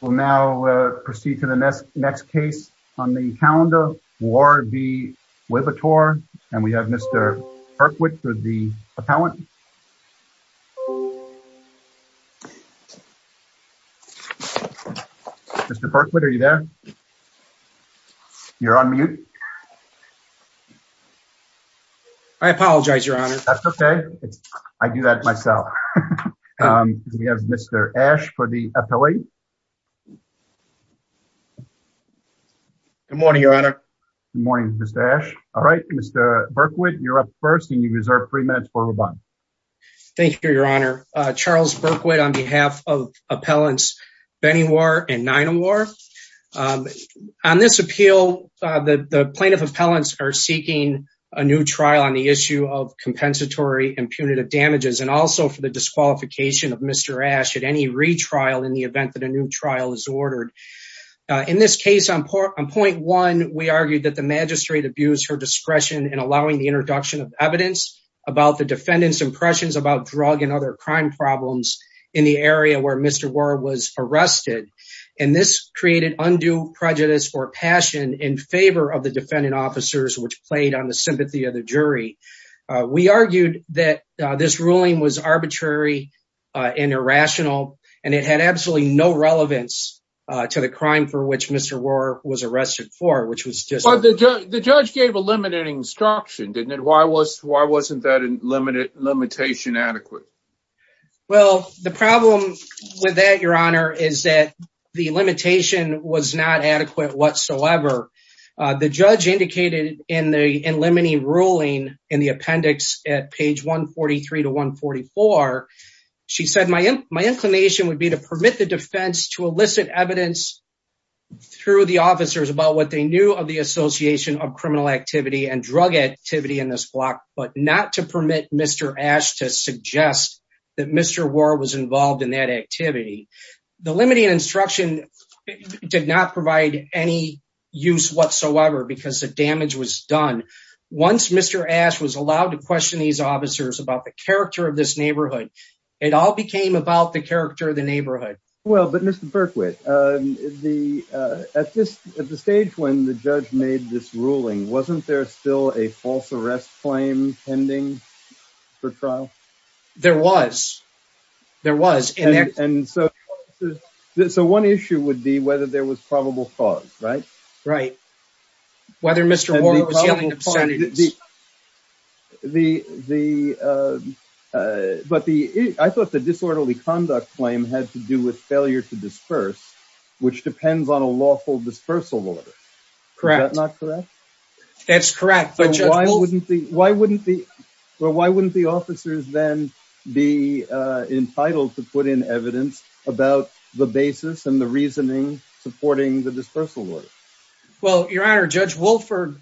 We'll now proceed to the next case on the calendar, Warr v. Liberatore, and we have Mr. Perkwit for the appellant. Mr. Perkwit, are you there? You're on mute. I apologize, Your Honor. That's okay. I do that myself. We have Mr. Ash for the appellate. Good morning, Your Honor. Good morning, Mr. Ash. All right, Mr. Perkwit, you're up first, and you reserve three minutes for rebuttal. Thank you, Your Honor. Charles Perkwit on behalf of appellants Benny Warr and Nina Warr. On this appeal, the plaintiff appellants are seeking a new trial on the issue of compensatory and punitive damages and also for the disqualification of Mr. Ash at any retrial in the event that a new trial is ordered. In this case, on point one, we argued that the magistrate abused her discretion in allowing the introduction of evidence about the defendant's impressions about drug and other crime problems in the area where Mr. Warr was arrested, and this created undue prejudice or passion in favor of the defendant officers, which played on the sympathy of the jury. We argued that this ruling was arbitrary and irrational, and it had absolutely no relevance to the crime for which Mr. Warr was arrested for, which was just... But the judge gave a limited instruction, didn't it? Why wasn't that limitation adequate? Well, the problem with that, Your Honor, is that the limitation was not adequate whatsoever. The judge indicated in the limiting ruling in the appendix at page 143 to 144, she said, my inclination would be to permit the defense to elicit evidence through the officers about what they knew of the association of criminal activity and drug activity in this block, but not to permit Mr. Ash to suggest that Mr. Warr was involved in that activity. The limiting instruction did not provide any use whatsoever because the damage was done. Once Mr. Ash was allowed to question these officers about the character of this neighborhood, it all became about the character of the neighborhood. Well, but Mr. Berkwit, at the stage when the judge made this ruling, wasn't there still a false arrest claim pending for trial? There was. There was. And so one issue would be whether there was probable cause, right? Right. Whether Mr. Warr was yelling obscenities. But I thought the disorderly conduct claim had to do with failure to disperse, which depends on a lawful dispersal order. Correct. Is that not correct? That's correct. Why wouldn't the officers then be entitled to put in evidence about the basis and the reasoning supporting the dispersal order? Well, Your Honor, Judge Wolford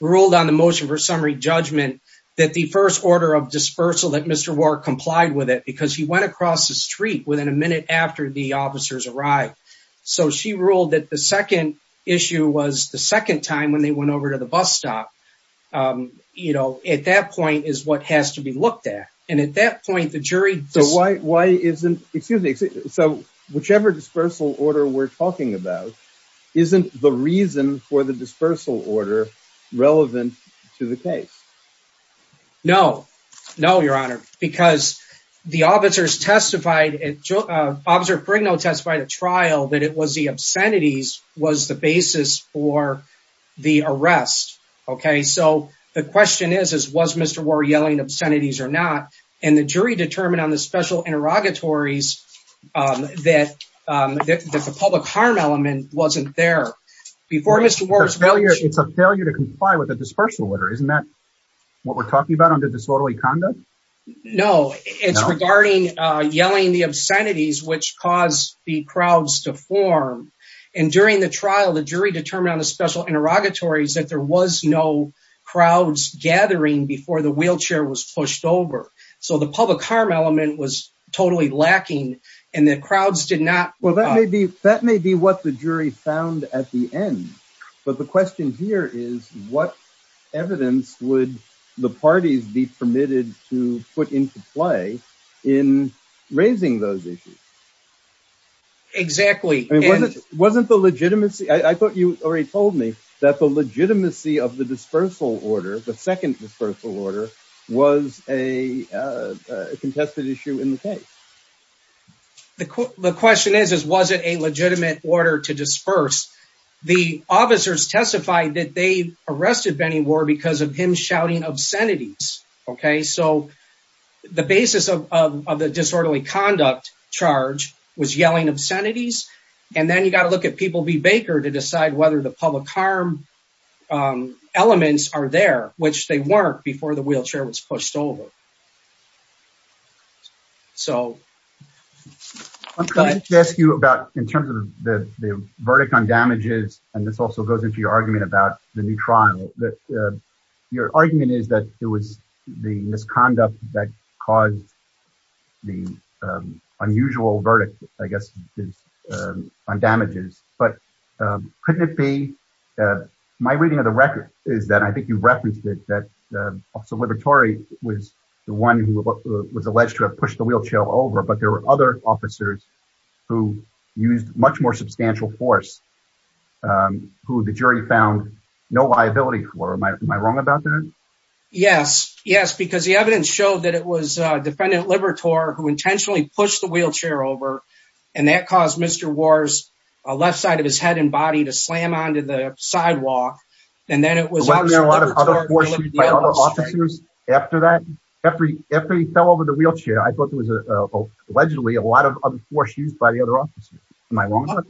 ruled on the motion for summary judgment that the first order of dispersal that Mr. Warr complied with it because he went across the street within a minute after the officers arrived. So she ruled that the second issue was the second time when they went over to the bus stop. You know, at that point is what has to be looked at. And at that point, the jury. So why isn't excuse me. So whichever dispersal order we're talking about, isn't the reason for the dispersal order relevant to the case? No, no, Your Honor. Because the officers testified, Officer Fregno testified at trial, that it was the obscenities was the basis for the arrest. Okay. So the question is, was Mr. Warr yelling obscenities or not? And the jury determined on the special interrogatories that the public harm element wasn't there. It's a failure to comply with a dispersal order. Isn't that what we're talking about under disorderly conduct? No, it's regarding yelling the obscenities, which caused the crowds to form. And during the trial, the jury determined on the special interrogatories that there was no crowds gathering before the wheelchair was pushed over. So the public harm element was totally lacking and the crowds did not. Well, that may be that may be what the jury found at the end. But the question here is what evidence would the parties be permitted to put into play in raising those issues? Exactly. It wasn't the legitimacy. I thought you already told me that the legitimacy of the dispersal order. The second dispersal order was a contested issue in the case. The question is, was it a legitimate order to disperse? The officers testified that they arrested Benny War because of him shouting obscenities. OK, so the basis of the disorderly conduct charge was yelling obscenities. And then you got to look at people be Baker to decide whether the public harm elements are there, which they weren't before the wheelchair was pushed over. So I'm going to ask you about in terms of the verdict on damages. And this also goes into your argument about the new trial that your argument is that it was the misconduct that caused the unusual verdict, I guess, on damages. But couldn't it be that my reading of the record is that I think you referenced it, that also Libertari was the one who was alleged to have pushed the wheelchair over. But there were other officers who used much more substantial force, who the jury found no liability for. Am I wrong about that? Yes. Yes. Because the evidence showed that it was Defendant Libertari who intentionally pushed the wheelchair over and that caused Mr. War's left side of his head and body to slam onto the sidewalk. And then it was a lot of other officers after that. Every every fell over the wheelchair. I thought it was allegedly a lot of force used by the other officers. Am I wrong?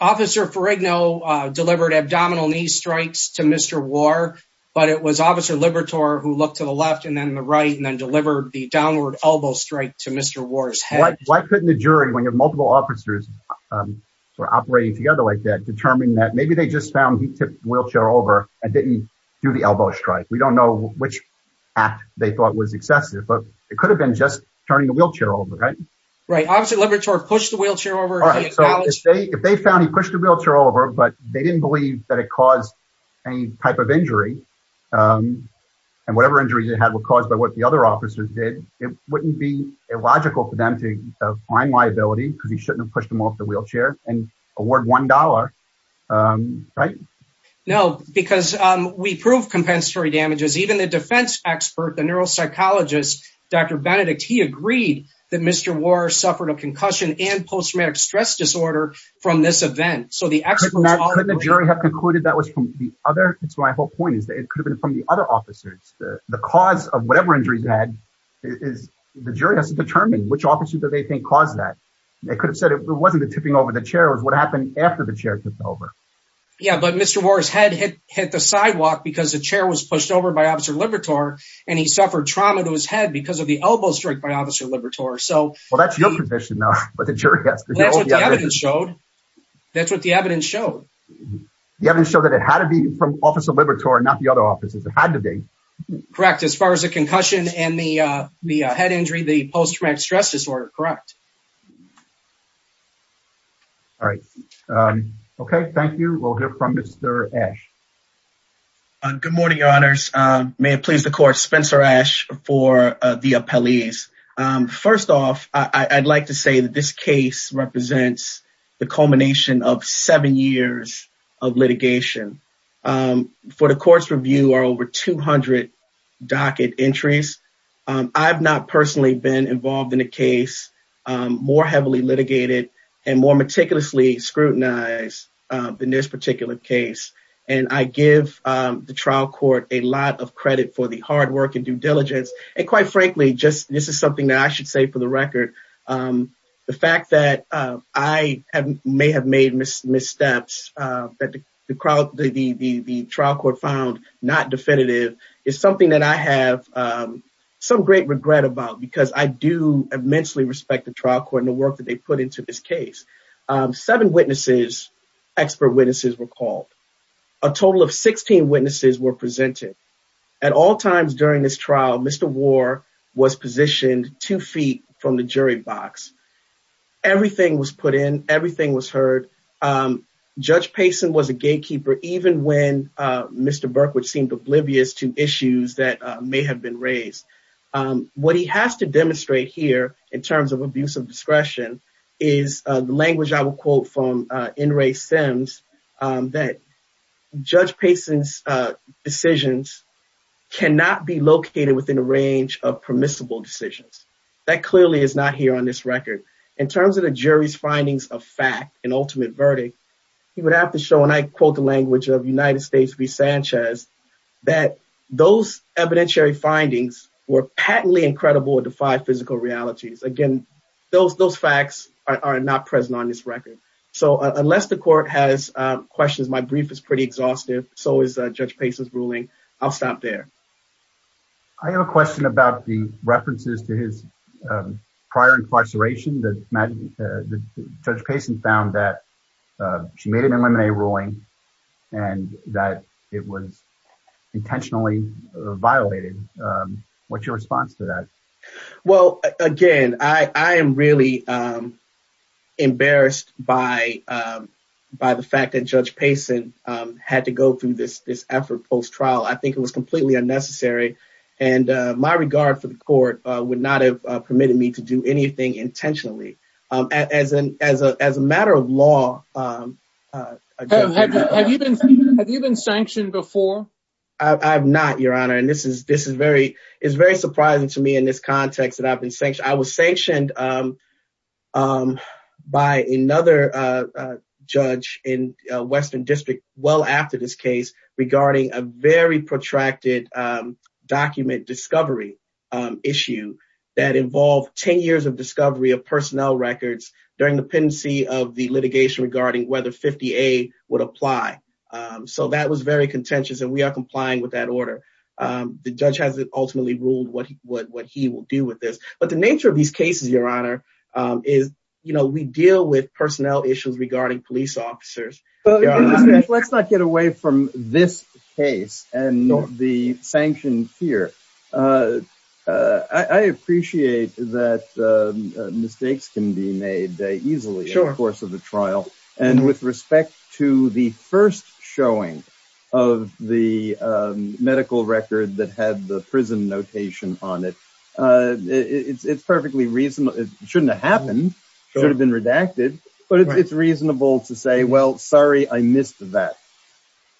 Officer Ferragno delivered abdominal knee strikes to Mr. War, but it was Officer Libertari who looked to the left and then the right and then delivered the downward elbow strike to Mr. War's head. Why couldn't the jury, when you have multiple officers operating together like that, determine that maybe they just found he tipped the wheelchair over and didn't do the elbow strike? We don't know which act they thought was excessive, but it could have been just turning the wheelchair over. Right. Right. Officer Libertari pushed the wheelchair over. If they found he pushed the wheelchair over, but they didn't believe that it caused any type of injury. And whatever injuries it had were caused by what the other officers did. It wouldn't be illogical for them to find liability because he shouldn't have pushed him off the wheelchair and award one dollar. Right. No, because we prove compensatory damages. Even the defense expert, the neuropsychologist, Dr. Benedict, he agreed that Mr. War suffered a concussion and post-traumatic stress disorder from this event. So the jury have concluded that was from the other. It's my whole point is that it could have been from the other officers. The cause of whatever injuries had is the jury has to determine which officers that they think caused that. They could have said it wasn't the tipping over the chair was what happened after the chair tipped over. Yeah, but Mr. War's head hit hit the sidewalk because the chair was pushed over by Officer Libertari and he suffered trauma to his head because of the elbow strike by Officer Libertari. So, well, that's your position now, but the jury has to show. That's what the evidence showed. The evidence showed that it had to be from Officer Libertari, not the other officers that had to be. Correct. As far as the concussion and the the head injury, the post-traumatic stress disorder. Correct. All right. OK, thank you. We'll hear from Mr. Ash. Good morning, your honors. May it please the court. Spencer Ash for the appellees. First off, I'd like to say that this case represents the culmination of seven years of litigation for the court's review or over 200 docket entries. I've not personally been involved in a case more heavily litigated and more meticulously scrutinized than this particular case. And I give the trial court a lot of credit for the hard work and due diligence. And quite frankly, just this is something that I should say for the record. The fact that I may have made missteps that the trial court found not definitive is something that I have some great regret about, because I do immensely respect the trial court and the work that they put into this case. Seven witnesses, expert witnesses were called. A total of 16 witnesses were presented at all times during this trial. Mr. War was positioned two feet from the jury box. Everything was put in. Everything was heard. Judge Payson was a gatekeeper. Even when Mr. Burke, which seemed oblivious to issues that may have been raised. What he has to demonstrate here in terms of abuse of discretion is the language I will quote from N. Ray Sims that Judge Payson's decisions cannot be located within a range of permissible decisions. That clearly is not here on this record. In terms of the jury's findings of fact and ultimate verdict, he would have to show, and I quote the language of United States v. Sanchez, that those evidentiary findings were patently incredible or defied physical realities. Again, those those facts are not present on this record. So unless the court has questions, my brief is pretty exhaustive. So is Judge Payson's ruling. I'll stop there. I have a question about the references to his prior incarceration. Judge Payson found that she made an M&A ruling and that it was intentionally violated. What's your response to that? Well, again, I am really embarrassed by by the fact that Judge Payson had to go through this effort post-trial. I think it was completely unnecessary. And my regard for the court would not have permitted me to do anything intentionally as an as a as a matter of law. Have you been sanctioned before? I'm not, Your Honor. And this is this is very is very surprising to me in this context that I've been sanctioned. I was sanctioned by another judge in Western District well after this case regarding a very protracted document discovery issue that involved 10 years of discovery of personnel records during the pendency of the litigation regarding whether 50A would apply. So that was very contentious and we are complying with that order. The judge has ultimately ruled what he would what he will do with this. But the nature of these cases, Your Honor, is, you know, we deal with personnel issues regarding police officers. Let's not get away from this case and the sanctioned fear. I appreciate that mistakes can be made easily over the course of the trial. And with respect to the first showing of the medical record that had the prison notation on it, it's perfectly reasonable. It shouldn't have happened, should have been redacted. But it's reasonable to say, well, sorry, I missed that.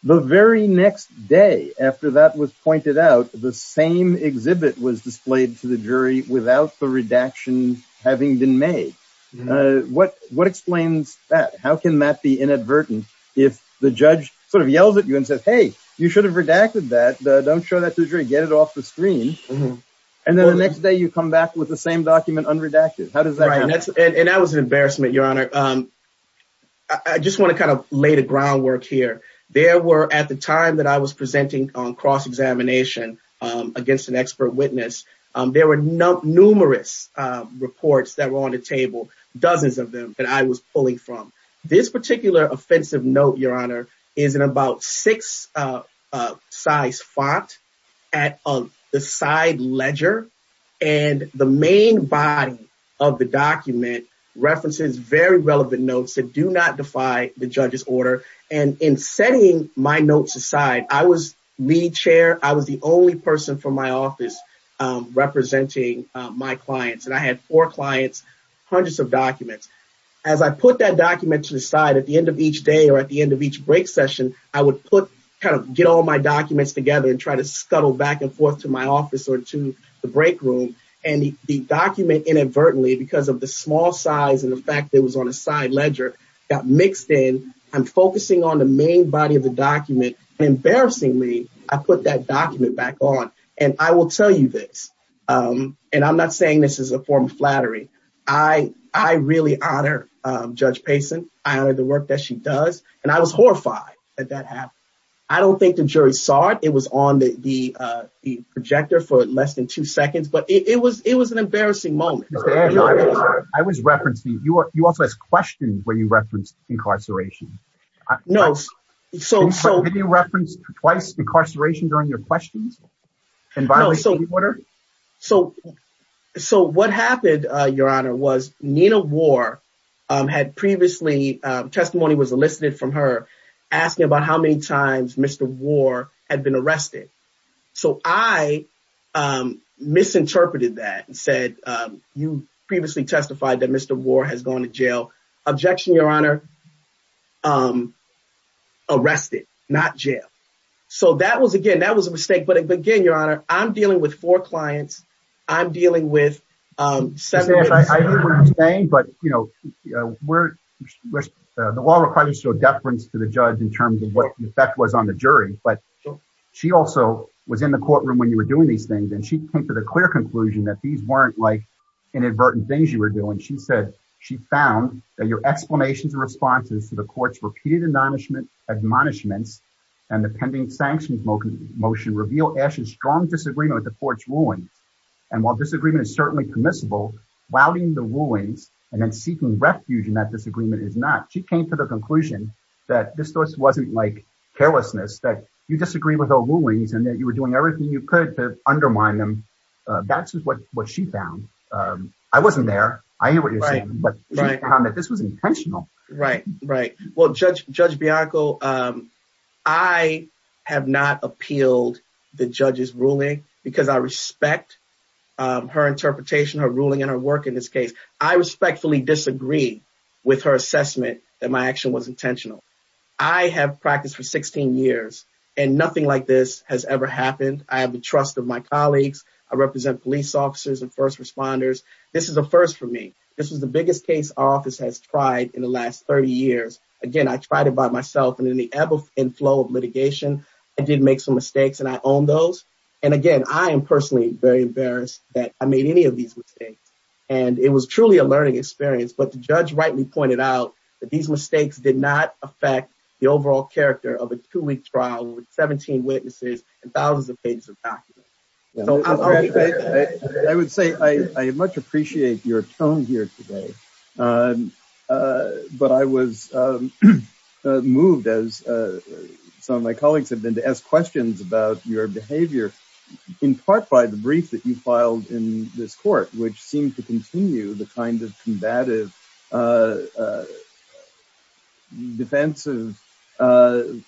The very next day after that was pointed out, the same exhibit was displayed to the jury without the redaction having been made. What what explains that? How can that be inadvertent? If the judge sort of yells at you and says, hey, you should have redacted that. Don't show that to the jury. Get it off the screen. And then the next day you come back with the same document unredacted. And that was an embarrassment, Your Honor. I just want to kind of lay the groundwork here. There were at the time that I was presenting on cross examination against an expert witness. There were numerous reports that were on the table, dozens of them that I was pulling from. This particular offensive note, Your Honor, is in about six size font at the side ledger. And the main body of the document references very relevant notes that do not defy the judge's order. And in setting my notes aside, I was lead chair. I was the only person from my office representing my clients. And I had four clients, hundreds of documents. As I put that document to the side at the end of each day or at the end of each break session, I would put kind of get all my documents together and try to scuttle back and forth to my office or to the break room. And the document inadvertently, because of the small size and the fact that it was on a side ledger, got mixed in. I'm focusing on the main body of the document. And embarrassingly, I put that document back on. And I will tell you this. And I'm not saying this is a form of flattery. I really honor Judge Payson. I honor the work that she does. And I was horrified that that happened. I don't think the jury saw it. It was on the projector for less than two seconds. But it was it was an embarrassing moment. I was referencing you. You also asked questions where you referenced incarceration. No. So you referenced twice incarceration during your questions. So. So what happened, Your Honor, was Nina War had previously testimony was elicited from her asking about how many times Mr. War had been arrested. So I misinterpreted that and said, you previously testified that Mr. War has gone to jail. Objection, Your Honor. Arrested, not jail. So that was again, that was a mistake. But again, Your Honor, I'm dealing with four clients. I'm dealing with seven. But, you know, we're the law requires a deference to the judge in terms of what the effect was on the jury. But she also was in the courtroom when you were doing these things. And she came to the clear conclusion that these weren't like inadvertent things you were doing. She said she found that your explanations and responses to the court's repeated admonishments and the pending sanctions motion reveal Asha's strong disagreement with the court's rulings. And while disagreement is certainly permissible, vowing the rulings and then seeking refuge in that disagreement is not. She came to the conclusion that this wasn't like carelessness, that you disagree with the rulings and that you were doing everything you could to undermine them. That's what what she found. I wasn't there. I hear what you're saying. But this was intentional. Right. Right. Well, Judge, Judge Bianco, I have not appealed the judge's ruling because I respect her interpretation, her ruling and her work in this case. I respectfully disagree with her assessment that my action was intentional. I have practiced for 16 years and nothing like this has ever happened. I have the trust of my colleagues. I represent police officers and first responders. This is a first for me. This was the biggest case our office has tried in the last 30 years. Again, I tried it by myself. And in the ebb and flow of litigation, I did make some mistakes and I own those. And again, I am personally very embarrassed that I made any of these mistakes. And it was truly a learning experience. But the judge rightly pointed out that these mistakes did not affect the overall character of a two week trial with 17 witnesses and thousands of pages of documents. I would say I much appreciate your tone here today. But I was moved as some of my colleagues have been to ask questions about your behavior, in part by the brief that you filed in this court, which seemed to continue the kind of combative, defensive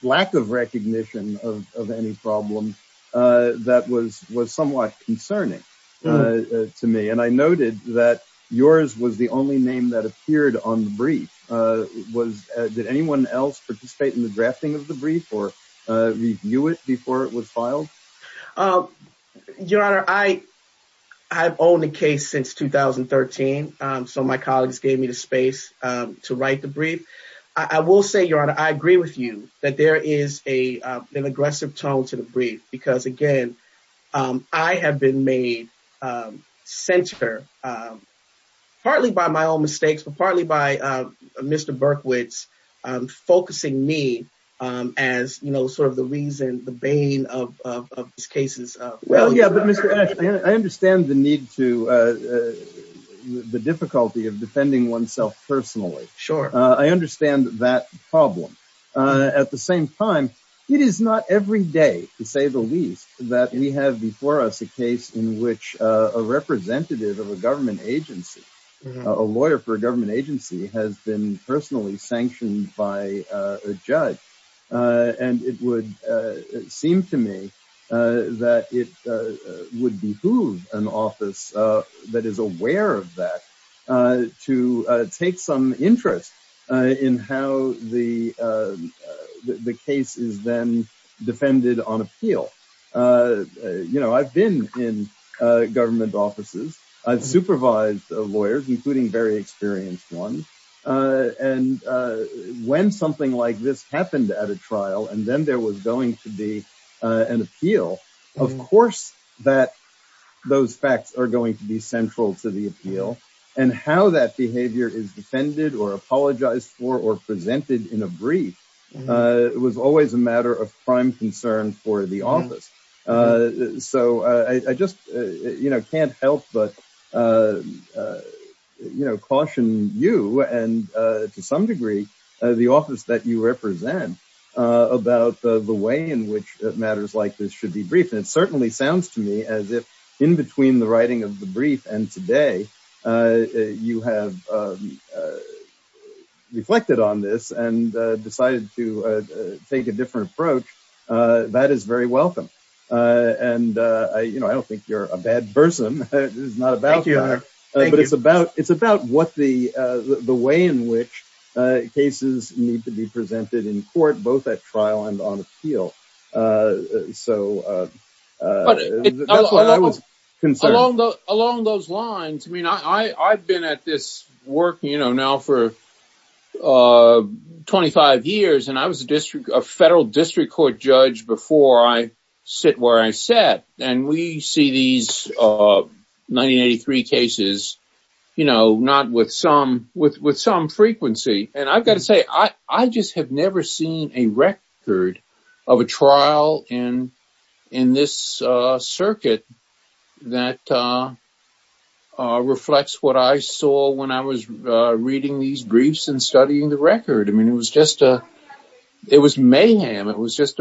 lack of recognition of any problem that was was somewhat concerning to me. And I noted that yours was the only name that appeared on the brief. Did anyone else participate in the drafting of the brief or review it before it was filed? Your Honor, I have owned the case since 2013. So my colleagues gave me the space to write the brief. I will say, Your Honor, I agree with you that there is a an aggressive tone to the brief because, again, I have been made center partly by my own mistakes, but partly by Mr. Berkowitz focusing me as, you know, sort of the reason, the bane of these cases. Well, yeah, but I understand the need to the difficulty of defending oneself personally. Sure. I understand that problem. At the same time, it is not every day, to say the least, that we have before us a case in which a representative of a government agency, a lawyer for a government agency, has been personally sanctioned by a judge. And it would seem to me that it would behoove an office that is aware of that to take some interest in how the case is then defended on appeal. You know, I've been in government offices. I've supervised lawyers, including very experienced ones. And when something like this happened at a trial and then there was going to be an appeal, of course, that those facts are going to be central to the appeal and how that behavior is defended or apologized for or presented in a brief. It was always a matter of prime concern for the office. So I just can't help but caution you and to some degree the office that you represent about the way in which matters like this should be briefed. And it certainly sounds to me as if in between the writing of the brief and today, you have reflected on this and decided to take a different approach. That is very welcome. And, you know, I don't think you're a bad person. It's not about you, but it's about it's about what the the way in which cases need to be presented in court, both at trial and on appeal. So I was concerned along those lines. I mean, I've been at this work, you know, now for twenty five years. And I was a district of federal district court judge before I sit where I sat. And we see these of ninety three cases, you know, not with some with with some frequency. And I've got to say, I just have never seen a record of a trial in in this circuit that reflects what I saw when I was reading these briefs and studying the record. I mean, it was just it was mayhem. It was just,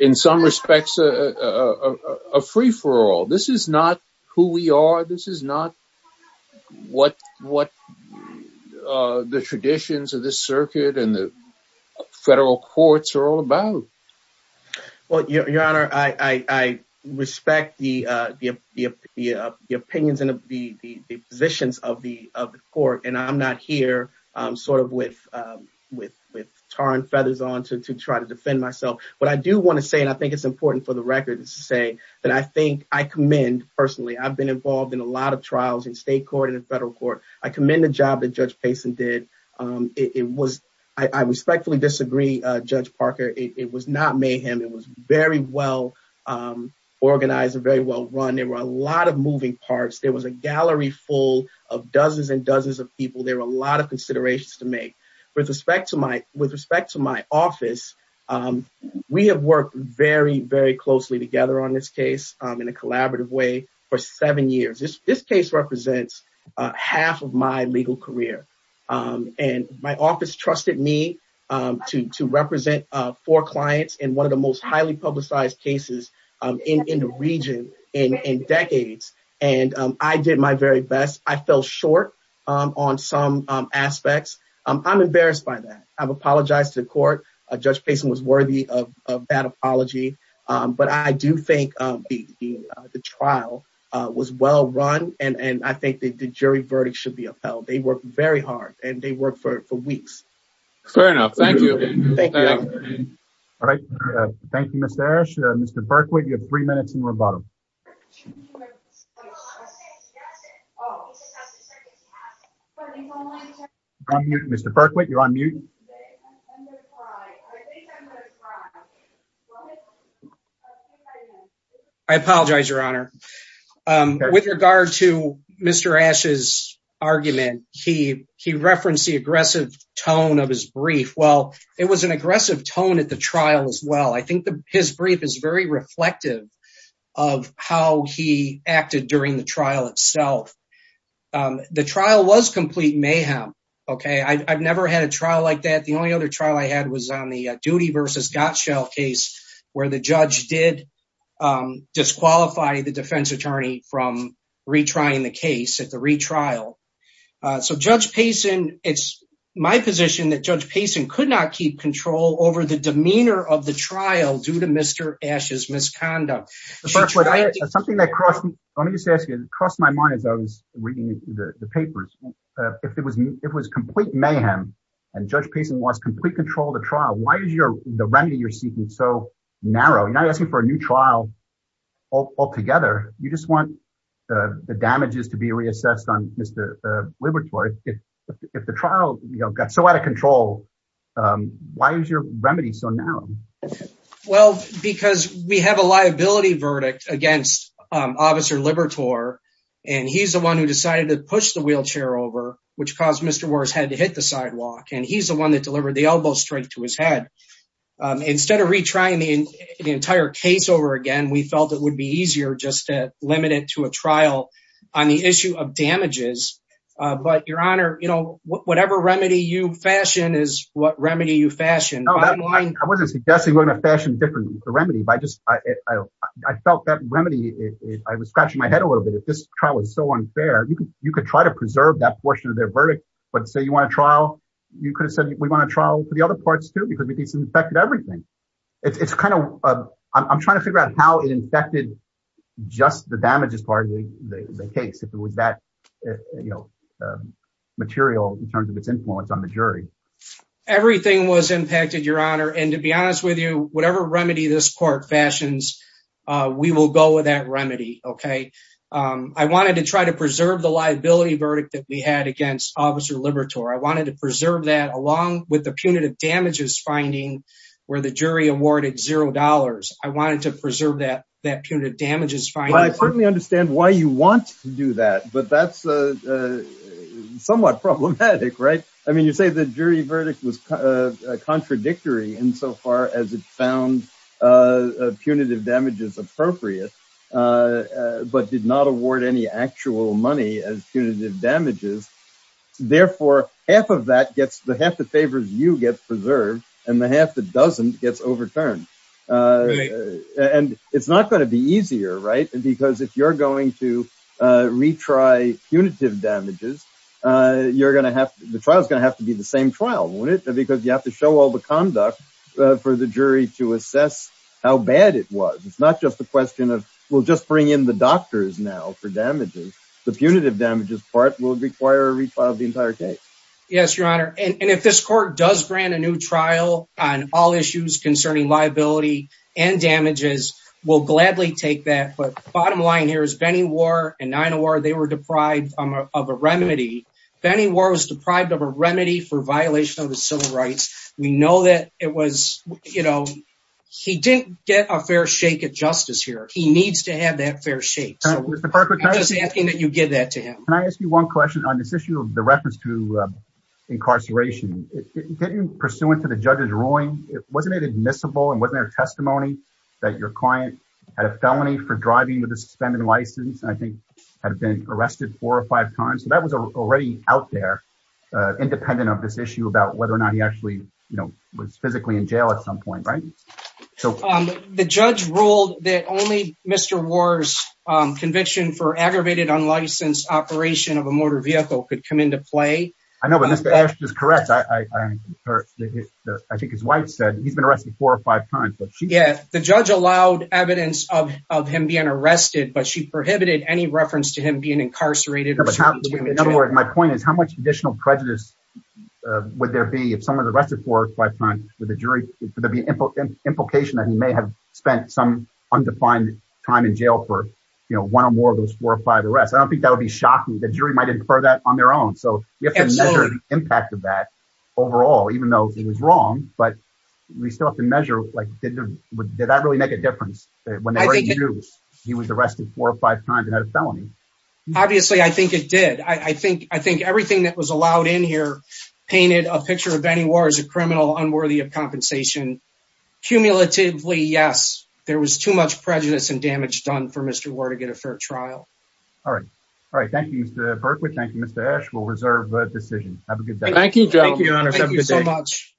in some respects, a free for all. This is not who we are. This is not what what the traditions of the circuit and the federal courts are all about. Well, your honor, I respect the the opinions and the positions of the court. And I'm not here sort of with with with torn feathers on to to try to defend myself. But I do want to say and I think it's important for the record to say that I think I commend personally, I've been involved in a lot of trials in state court and federal court. I commend the job that Judge Payson did. It was I respectfully disagree. Judge Parker, it was not mayhem. It was very well organized and very well run. There were a lot of moving parts. There was a gallery full of dozens and dozens of people. There were a lot of considerations to make with respect to my with respect to my office. We have worked very, very closely together on this case in a collaborative way for seven years. This case represents half of my legal career. And my office trusted me to represent four clients in one of the most highly publicized cases in the region in decades. And I did my very best. I fell short on some aspects. I'm embarrassed by that. I've apologized to the court. Judge Payson was worthy of that apology. But I do think the trial was well run. And I think the jury verdict should be upheld. They work very hard and they work for weeks. Fair enough. Thank you. Thank you. All right. Thank you, Mr. Ash. Mr. Berkwood, you have three minutes in rebuttal. Mr. Berkwood, you're on mute. I apologize, Your Honor. With regard to Mr. Ash's argument, he he referenced the aggressive tone of his brief. Well, it was an aggressive tone at the trial as well. I think his brief is very reflective of how he acted during the trial itself. The trial was complete mayhem. OK, I've never had a trial like that. The only other trial I had was on the duty versus Gottschall case where the judge did disqualify the defense attorney from retrying the case at the retrial. So Judge Payson, it's my position that Judge Payson could not keep control over the demeanor of the trial due to Mr. Ash's misconduct. Something that crossed my mind as I was reading the papers. If it was it was complete mayhem and Judge Payson lost complete control of the trial. Why is your the remedy you're seeking so narrow? You're not asking for a new trial altogether. You just want the damages to be reassessed on Mr. Libertor. If the trial got so out of control, why is your remedy so narrow? Well, because we have a liability verdict against Officer Libertor, and he's the one who decided to push the wheelchair over, which caused Mr. And he's the one that delivered the elbow strike to his head. Instead of retrying the entire case over again, we felt it would be easier just to limit it to a trial on the issue of damages. But your honor, you know, whatever remedy you fashion is what remedy you fashion. I wasn't suggesting we're going to fashion different remedy by just I felt that remedy. I was scratching my head a little bit. If this trial is so unfair, you could you could try to preserve that portion of their verdict. But say you want a trial. You could have said we want a trial for the other parts, too, because we disinfected everything. It's kind of I'm trying to figure out how it infected just the damages part of the case. If it was that, you know, material in terms of its influence on the jury, everything was impacted, your honor. And to be honest with you, whatever remedy this court fashions, we will go with that remedy. OK, I wanted to try to preserve the liability verdict that we had against Officer Libertor. I wanted to preserve that along with the punitive damages finding where the jury awarded zero dollars. I wanted to preserve that that punitive damages. I certainly understand why you want to do that, but that's somewhat problematic. Right. I mean, you say the jury verdict was contradictory insofar as it found punitive damages appropriate, but did not award any actual money as punitive damages. Therefore, half of that gets the half that favors you get preserved and the half that doesn't gets overturned. And it's not going to be easier. Right. And because if you're going to retry punitive damages, you're going to have the trial is going to have to be the same trial. Would it be because you have to show all the conduct for the jury to assess how bad it was? It's not just a question of we'll just bring in the doctors now for damages. The punitive damages part will require a retrial of the entire case. Yes, your honor. And if this court does grant a new trial on all issues concerning liability and damages, we'll gladly take that. But bottom line here is Benny War and nine or they were deprived of a remedy. Benny War was deprived of a remedy for violation of the civil rights. We know that it was, you know, he didn't get a fair shake of justice here. He needs to have that fair shake. Just asking that you give that to him. Can I ask you one question on this issue of the reference to incarceration? Didn't pursuant to the judge's ruling, wasn't it admissible and wasn't there testimony that your client had a felony for driving with a suspended license? I think had been arrested four or five times. That was already out there, independent of this issue about whether or not he actually was physically in jail at some point. Right. So the judge ruled that only Mr. War's conviction for aggravated unlicensed operation of a motor vehicle could come into play. I know, but that's just correct. I think his wife said he's been arrested four or five times. Yeah, the judge allowed evidence of him being arrested, but she prohibited any reference to him being incarcerated. In other words, my point is, how much additional prejudice would there be if someone was arrested for five times with a jury? Would there be an implication that he may have spent some undefined time in jail for one or more of those four or five arrests? I don't think that would be shocking. The jury might infer that on their own. So we have to measure the impact of that overall, even though he was wrong. But we still have to measure, like, did that really make a difference when he was arrested four or five times and had a felony? Obviously, I think it did. I think I think everything that was allowed in here painted a picture of any war is a criminal unworthy of compensation. Cumulatively, yes, there was too much prejudice and damage done for Mr. War to get a fair trial. All right. All right. Thank you, Mr. Berkley. Thank you, Mr. Esch. We'll reserve the decision. Have a good day. Thank you. Thank you so much.